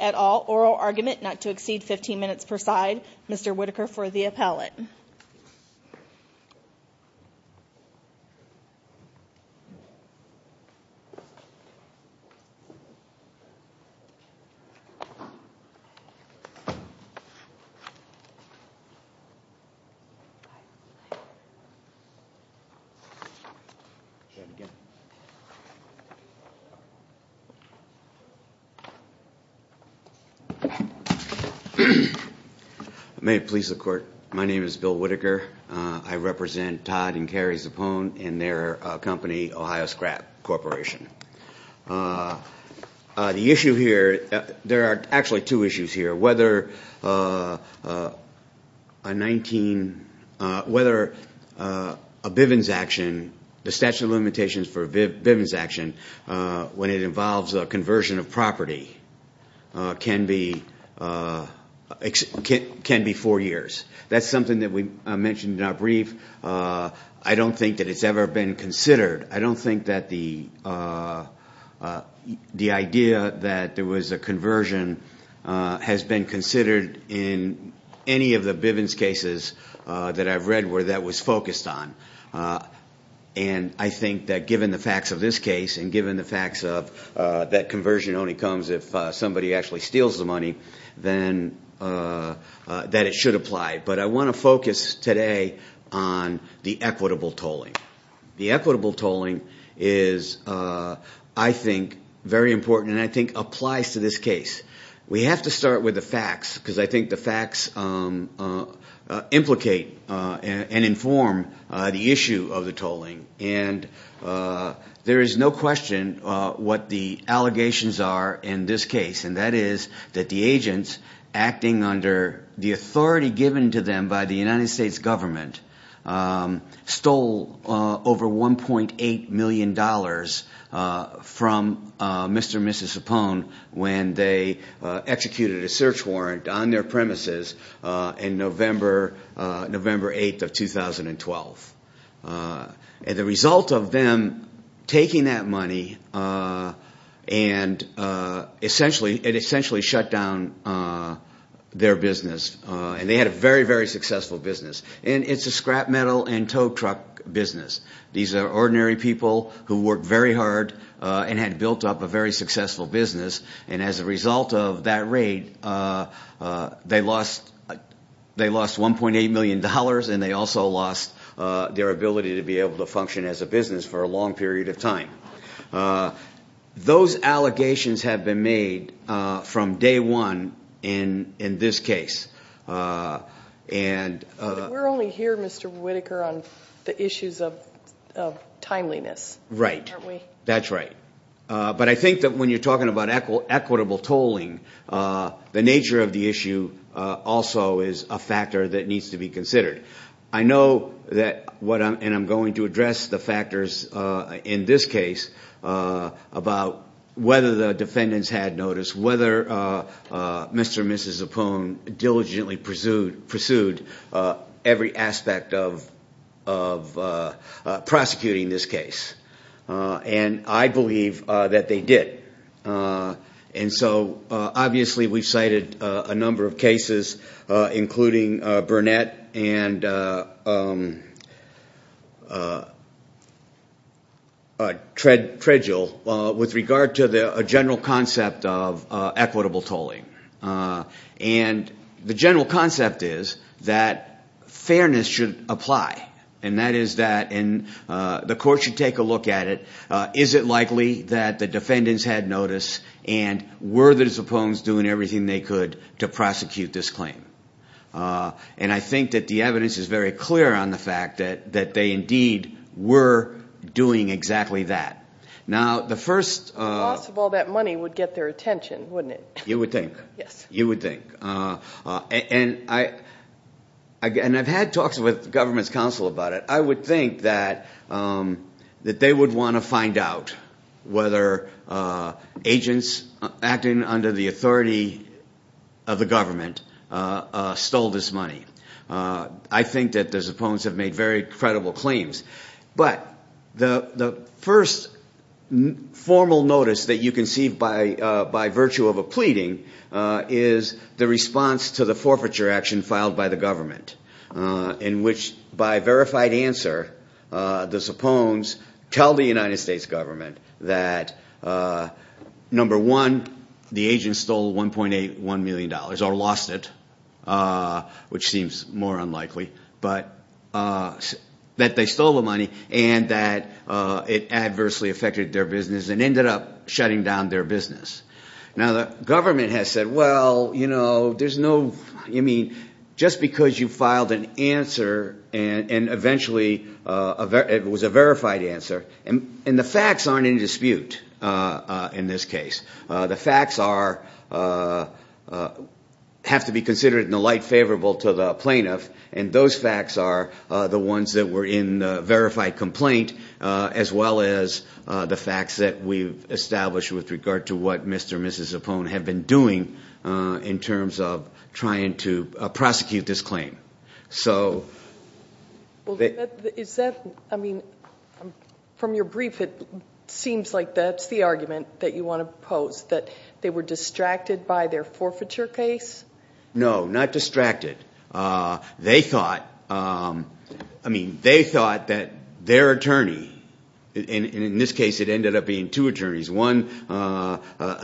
at all oral argument not to exceed 15 minutes per side. Mr. Whitaker for the appellate. May it please the court, my name is Bill Whitaker. I represent Todd and Carrie Zappone and their company Ohio Scrap Corporation. The issue here, there are actually two issues here. Whether a 19, whether a Bivens action, the statute of limitations for a Bivens action when it involves a conversion of property can be four years. That's something that we mentioned in our brief. I don't think that it's ever been considered. I don't think that the idea that there was a conversion has been considered in any of the Bivens cases that I've read where that was focused on. And I think that given the facts of this case and given the facts of that conversion only comes if somebody actually steals the money, then that it should apply. But I want to focus today on the equitable tolling. The equitable tolling is I think very important and I think applies to this case. We have to start with the facts because I think the facts implicate and inform the issue of the tolling. And there is no question what the allegations are in this case. And that is that the agents acting under the authority given to them by the United States government stole over $1.8 million from Mr. and Mrs. Zappone when they executed a search warrant on their premises in November 8th of 2012. And the result of them taking that money, it essentially shut down their business. And they had a very, very successful business. And it's a scrap metal and tow truck business. These are ordinary people who worked very hard and had built up a very successful business. And as a result of that raid, they lost $1.8 million and they also lost their ability to be able to function as a business for a long period of time. Those allegations have been made from day one in this case. We're only here, Mr. Whitaker, on the issues of timeliness, aren't we? That's right. But I think that when you're talking about equitable tolling, the nature of the issue also is a factor that needs to be considered. I know that what I'm – and I'm going to address the factors in this case about whether the defendants had notice, whether Mr. and Mrs. Zappone diligently pursued every aspect of prosecuting this case. And I believe that they did. And so obviously we've cited a number of cases, including Burnett and Tredgill, with regard to a general concept of equitable tolling. And the general concept is that fairness should apply, and that is that – and the court should take a look at it. Is it likely that the defendants had notice and were the Zappones doing everything they could to prosecute this claim? And I think that the evidence is very clear on the fact that they indeed were doing exactly that. The loss of all that money would get their attention, wouldn't it? You would think. You would think. And I've had talks with government's counsel about it. I would think that they would want to find out whether agents acting under the authority of the government stole this money. I think that the Zappones have made very credible claims. But the first formal notice that you can see by virtue of a pleading is the response to the forfeiture action filed by the government in which, by verified answer, the Zappones tell the United States government that, number one, the agents stole $1.81 million or lost it, which seems to be the case. It seems more unlikely, but – that they stole the money and that it adversely affected their business and ended up shutting down their business. Now, the government has said, well, there's no – just because you filed an answer and eventually it was a verified answer – and the facts aren't in dispute in this case. The facts are – have to be considered in the light favorable to the plaintiff, and those facts are the ones that were in the verified complaint as well as the facts that we've established with regard to what Mr. and Mrs. Zappone have been doing in terms of trying to prosecute this claim. Well, is that – I mean, from your brief, it seems like that's the argument that you want to pose, that they were distracted by their forfeiture case? No, not distracted. They thought – I mean, they thought that their attorney – and in this case it ended up being two attorneys, one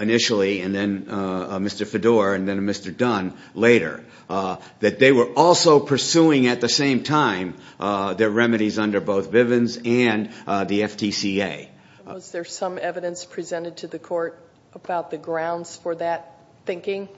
initially and then Mr. Fedor and then Mr. Dunn later – that they were also pursuing at the same time their remedies under both Bivens and the FTCA. Was there some evidence presented to the court about the grounds for that thinking?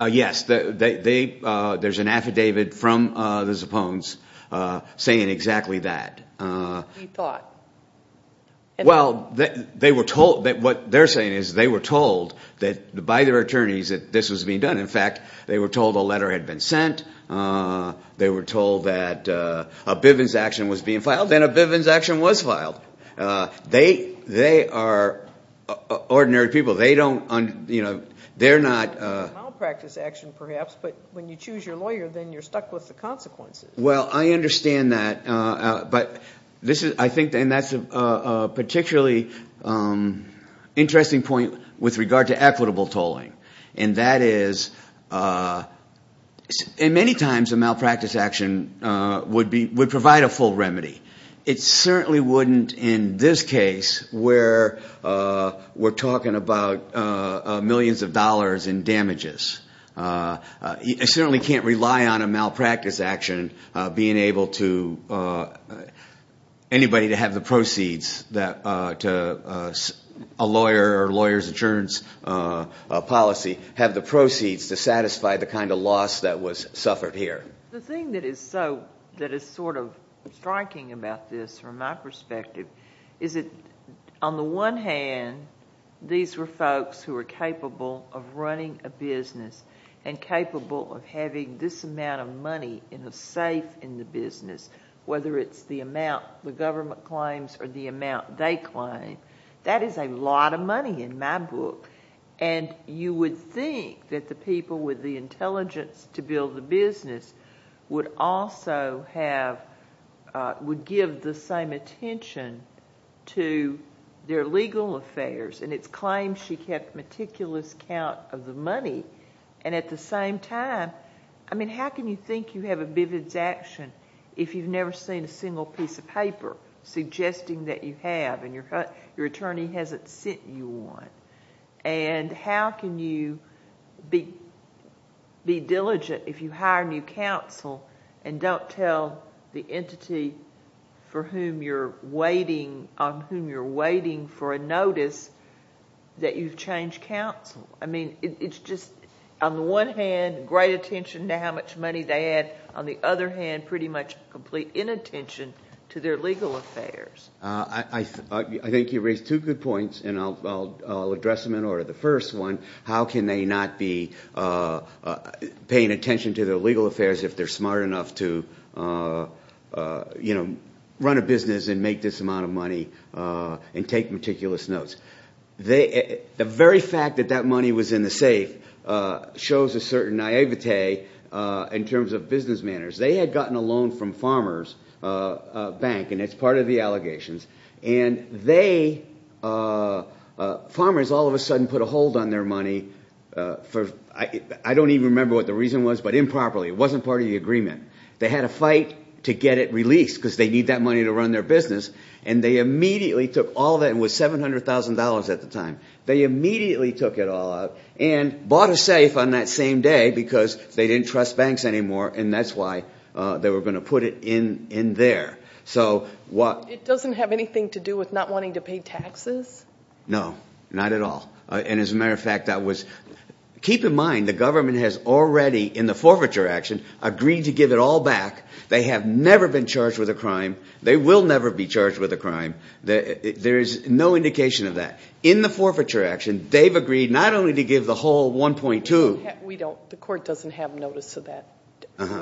Yes. They – there's an affidavit from the Zappones saying exactly that. We thought. Well, they were told – what they're saying is they were told that – by their attorneys that this was being done. In fact, they were told a letter had been sent. They were told that a Bivens action was being filed. Then a Bivens action was filed. They are ordinary people. They don't – they're not – A malpractice action perhaps, but when you choose your lawyer, then you're stuck with the consequences. Well, I understand that, but this is – I think – and that's a particularly interesting point with regard to equitable tolling. And that is – and many times a malpractice action would be – would provide a full remedy. It certainly wouldn't in this case where we're talking about millions of dollars in damages. I certainly can't rely on a malpractice action being able to – anybody to have the proceeds that a lawyer or a lawyer's insurance policy have the proceeds to satisfy the kind of loss that was suffered here. The thing that is so – that is sort of striking about this from my perspective is that on the one hand, these were folks who were capable of running a business and capable of having this amount of money in a safe in the business, whether it's the amount the government claims or the amount they claim. That is a lot of money in my book. And you would think that the people with the intelligence to build the business would also have – to their legal affairs, and it's claimed she kept meticulous count of the money. And at the same time, I mean, how can you think you have a vivid action if you've never seen a single piece of paper suggesting that you have and your attorney hasn't sent you one? And how can you be diligent if you hire new counsel and don't tell the entity for whom you're waiting – on whom you're waiting for a notice that you've changed counsel? I mean, it's just on the one hand, great attention to how much money they had. On the other hand, pretty much complete inattention to their legal affairs. I think you raise two good points, and I'll address them in order. The first one, how can they not be paying attention to their legal affairs if they're smart enough to run a business and make this amount of money and take meticulous notes? The very fact that that money was in the safe shows a certain naivete in terms of business manners. They had gotten a loan from Farmers Bank, and it's part of the allegations. And they – Farmers all of a sudden put a hold on their money for – I don't even remember what the reason was, but improperly. It wasn't part of the agreement. They had a fight to get it released because they need that money to run their business, and they immediately took all that – it was $700,000 at the time. They immediately took it all out and bought a safe on that same day because they didn't trust banks anymore, and that's why they were going to put it in there. So what – It doesn't have anything to do with not wanting to pay taxes? No, not at all. And as a matter of fact, that was – keep in mind the government has already, in the forfeiture action, agreed to give it all back. They have never been charged with a crime. They will never be charged with a crime. There is no indication of that. In the forfeiture action, they've agreed not only to give the whole 1.2 – We don't – the court doesn't have notice of that.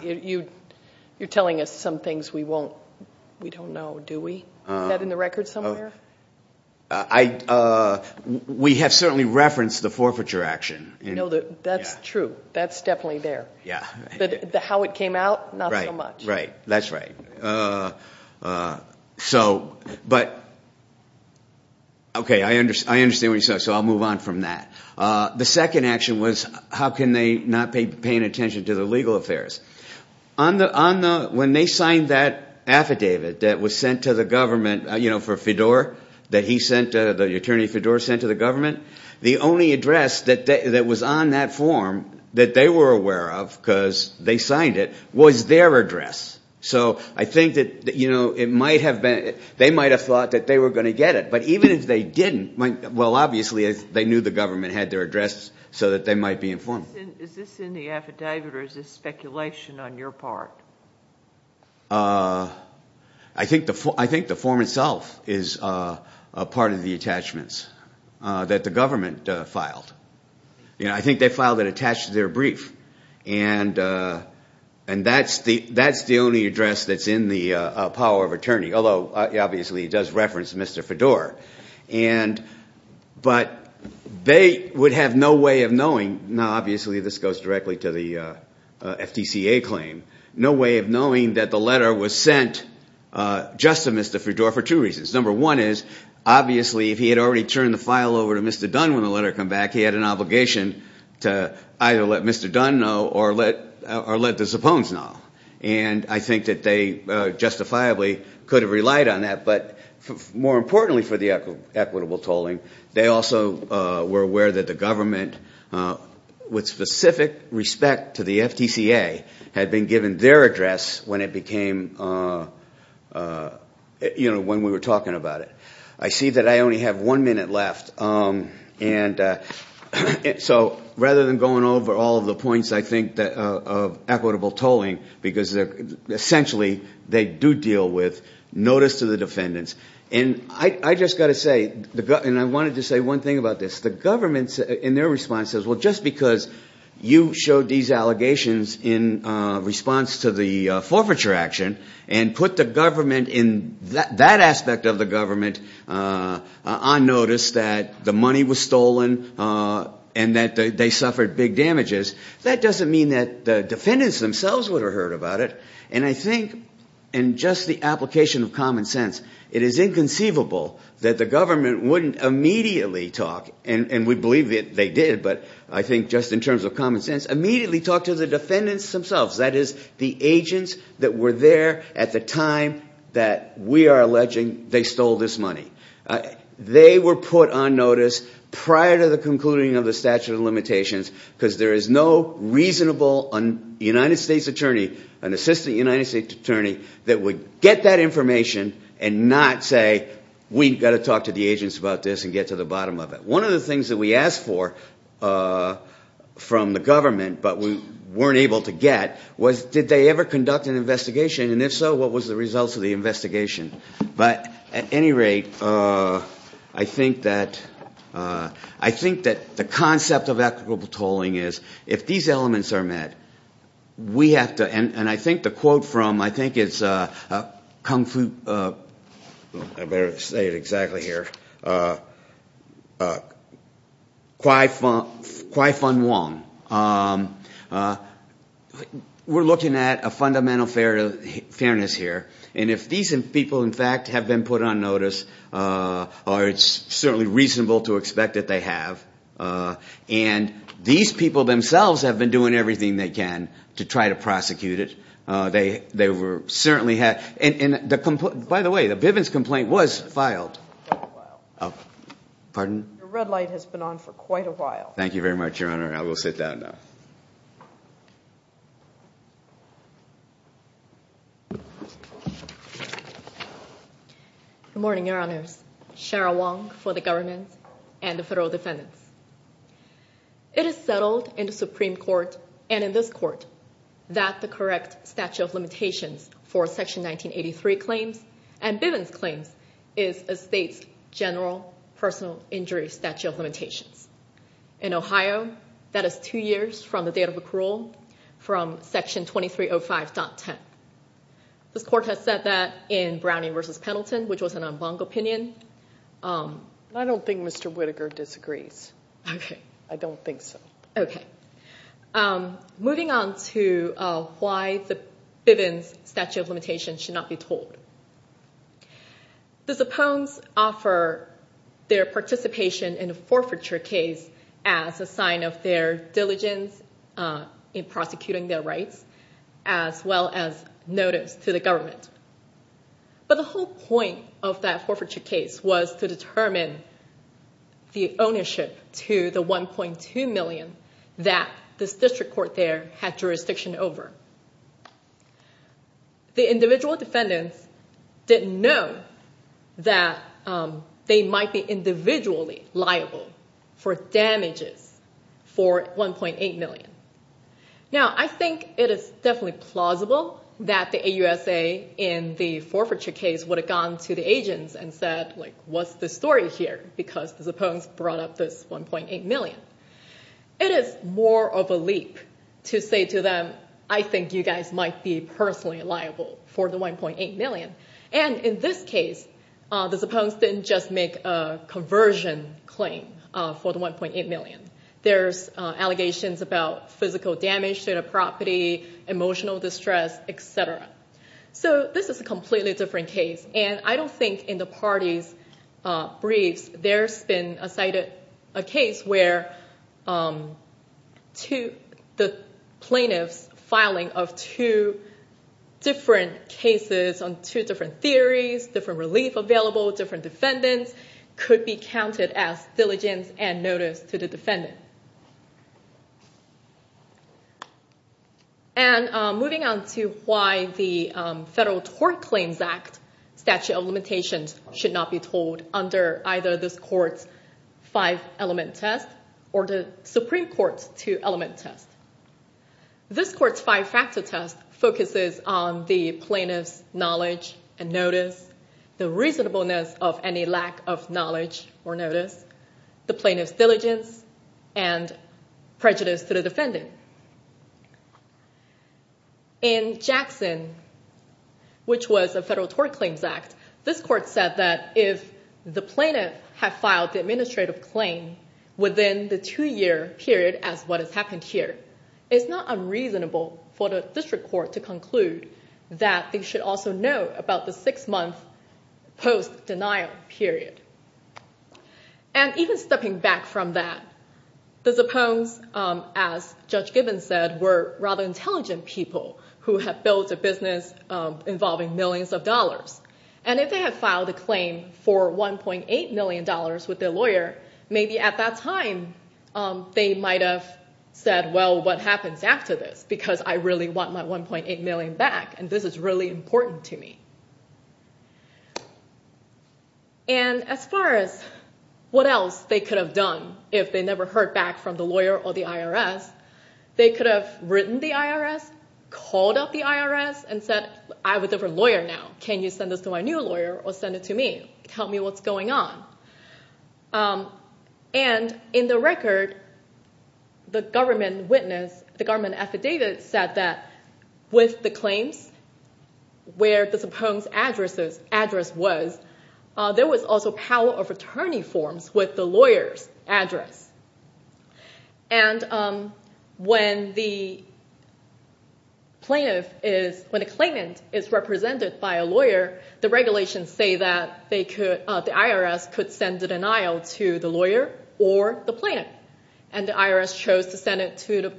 You're telling us some things we won't – we don't know, do we? Is that in the record somewhere? I – we have certainly referenced the forfeiture action. No, that's true. That's definitely there. Yeah. But how it came out, not so much. Right, right. That's right. So – but – okay, I understand what you're saying, so I'll move on from that. The second action was how can they not be paying attention to the legal affairs? On the – when they signed that affidavit that was sent to the government for Fedor, that he sent – the attorney Fedor sent to the government, the only address that was on that form that they were aware of, because they signed it, was their address. So I think that, you know, it might have been – they might have thought that they were going to get it. But even if they didn't, well, obviously they knew the government had their address so that they might be informed. Is this in the affidavit or is this speculation on your part? I think the form itself is a part of the attachments that the government filed. You know, I think they filed it attached to their brief. And that's the only address that's in the power of attorney, although obviously it does reference Mr. Fedor. And – but they would have no way of knowing – now, obviously this goes directly to the FTCA claim – no way of knowing that the letter was sent just to Mr. Fedor for two reasons. Number one is obviously if he had already turned the file over to Mr. Dunn when the letter came back, he had an obligation to either let Mr. Dunn know or let the Zappones know. And I think that they justifiably could have relied on that. But more importantly for the equitable tolling, they also were aware that the government, with specific respect to the FTCA, had been given their address when it became – you know, when we were talking about it. I see that I only have one minute left. And so rather than going over all of the points, I think, of equitable tolling, because essentially they do deal with notice to the defendants. And I just got to say – and I wanted to say one thing about this. The government in their response says, well, just because you showed these allegations in response to the forfeiture action and put the government in – that aspect of the government on notice that the money was stolen and that they suffered big damages, that doesn't mean that the defendants themselves would have heard about it. And I think in just the application of common sense, it is inconceivable that the government wouldn't immediately talk – and we believe that they did, but I think just in terms of common sense – immediately talk to the defendants themselves, that is, the agents that were there at the time that we are alleging they stole this money. They were put on notice prior to the concluding of the statute of limitations because there is no reasonable United States attorney, an assistant United States attorney, that would get that information and not say, we've got to talk to the agents about this and get to the bottom of it. One of the things that we asked for from the government, but we weren't able to get, was did they ever conduct an investigation, and if so, what was the results of the investigation? But at any rate, I think that the concept of equitable tolling is if these elements are met, we have to – and I think the quote from – I think it's Kung Fu – I better say it exactly here – Kwai Fun Wong. We're looking at a fundamental fairness here, and if these people, in fact, have been put on notice, it's certainly reasonable to expect that they have. And these people themselves have been doing everything they can to try to prosecute it. They were certainly – and by the way, the Bivens complaint was filed. Pardon? Your red light has been on for quite a while. Thank you very much, Your Honor. I will sit down now. Good morning, Your Honors. Cheryl Wong for the government and the federal defendants. It is settled in the Supreme Court and in this court that the correct statute of limitations for Section 1983 claims and Bivens claims is a state's general personal injury statute of limitations. In Ohio, that is two years from the date of accrual from Section 2305.10. This court has said that in Browning v. Pendleton, which was an en banc opinion. I don't think Mr. Whitaker disagrees. Okay. I don't think so. Okay. Moving on to why the Bivens statute of limitations should not be tolled. The Zappones offer their participation in a forfeiture case as a sign of their diligence in prosecuting their rights as well as notice to the government. But the whole point of that forfeiture case was to determine the ownership to the $1.2 million that this district court there had jurisdiction over. The individual defendants didn't know that they might be individually liable for damages for $1.8 million. Now, I think it is definitely plausible that the AUSA in the forfeiture case would have gone to the agents and said, like, what's the story here because the Zappones brought up this $1.8 million. It is more of a leap to say to them, I think you guys might be personally liable for the $1.8 million. And in this case, the Zappones didn't just make a conversion claim for the $1.8 million. There's allegations about physical damage to the property, emotional distress, et cetera. So this is a completely different case. And I don't think in the parties' briefs there's been a case where the plaintiff's filing of two different cases on two different theories, different relief available, different defendants, could be counted as diligence and notice to the defendant. And moving on to why the Federal Tort Claims Act Statute of Limitations should not be told under either this court's five-element test or the Supreme Court's two-element test. This court's five-factor test focuses on the plaintiff's knowledge and notice, the reasonableness of any lack of knowledge or notice, the plaintiff's diligence, and prejudice to the defendant. In Jackson, which was a Federal Tort Claims Act, this court said that if the plaintiff had filed the administrative claim within the two-year period as what has happened here, it's not unreasonable for the district court to conclude that they should also know about the six-month post-denial period. And even stepping back from that, the Zappones, as Judge Gibbons said, were rather intelligent people who had built a business involving millions of dollars. And if they had filed a claim for $1.8 million with their lawyer, maybe at that time they might have said, well, what happens after this? Because I really want my $1.8 million back, and this is really important to me. And as far as what else they could have done if they never heard back from the lawyer or the IRS, they could have written the IRS, called up the IRS, and said, I have a different lawyer now. Can you send this to my new lawyer or send it to me? Tell me what's going on. And in the record, the government witness, the government affidavit said that with the claims, where the Zappones address was, there was also power of attorney forms with the lawyer's address. And when the plaintiff is, when a claimant is represented by a lawyer, the regulations say that they could, the IRS could send a denial to the lawyer or the plaintiff. And the IRS chose to send it to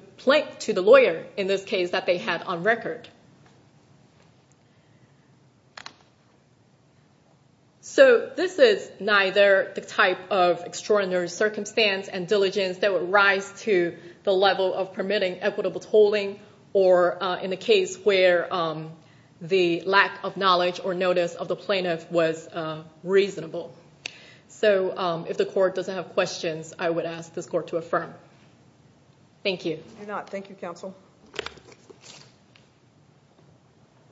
the lawyer in this case that they had on record. So this is neither the type of extraordinary circumstance and diligence that would rise to the level of permitting equitable tolling or in the case where the lack of knowledge or notice of the plaintiff was reasonable. So if the court doesn't have questions, I would ask this court to affirm. Thank you. Thank you, counsel.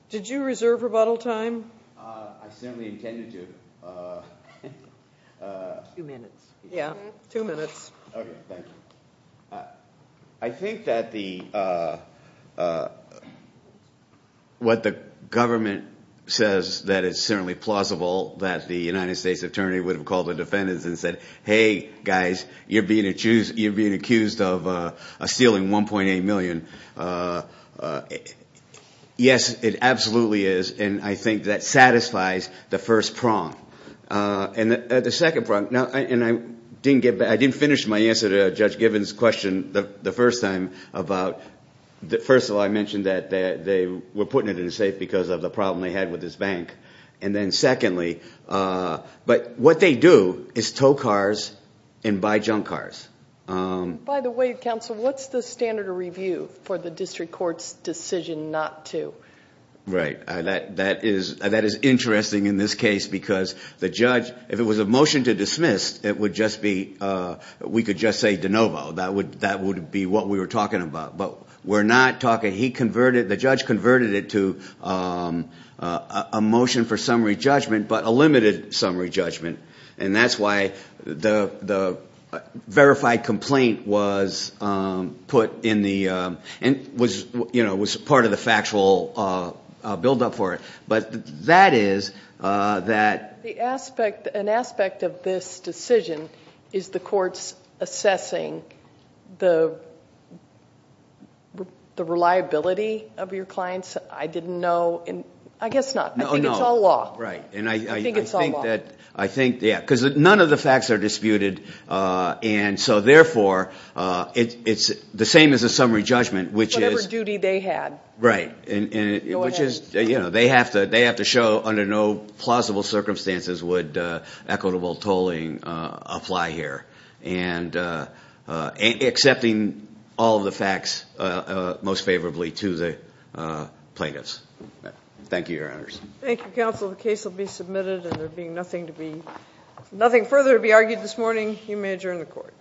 Did you reserve rebuttal time? I certainly intended to. Two minutes. Yeah, two minutes. Okay, thank you. I think that the, what the government says that it's certainly plausible that the United States attorney would have called the defendants and said, hey, guys, you're being accused of stealing $1.8 million. Yes, it absolutely is. And I think that satisfies the first prong. And the second prong, and I didn't finish my answer to Judge Gibbons' question the first time about, first of all, I mentioned that they were putting it in a safe because of the problem they had with this bank. And then secondly, but what they do is tow cars and buy junk cars. By the way, counsel, what's the standard of review for the district court's decision not to? Right. That is interesting in this case because the judge, if it was a motion to dismiss, it would just be, we could just say de novo. That would be what we were talking about. But we're not talking, he converted, the judge converted it to a motion for summary judgment but a limited summary judgment. And that's why the verified complaint was put in the, was part of the factual buildup for it. But that is that. The aspect, an aspect of this decision is the courts assessing the reliability of your clients. I didn't know, I guess not. I think it's all law. Right. I think it's all law. I think, yeah, because none of the facts are disputed and so therefore it's the same as a summary judgment which is. Whatever duty they had. Right. Which is, you know, they have to show under no plausible circumstances would equitable tolling apply here. And accepting all of the facts most favorably to the plaintiffs. Thank you, your honors. Thank you, counsel. The case will be submitted and there will be nothing to be, nothing further to be argued this morning. You may adjourn the court.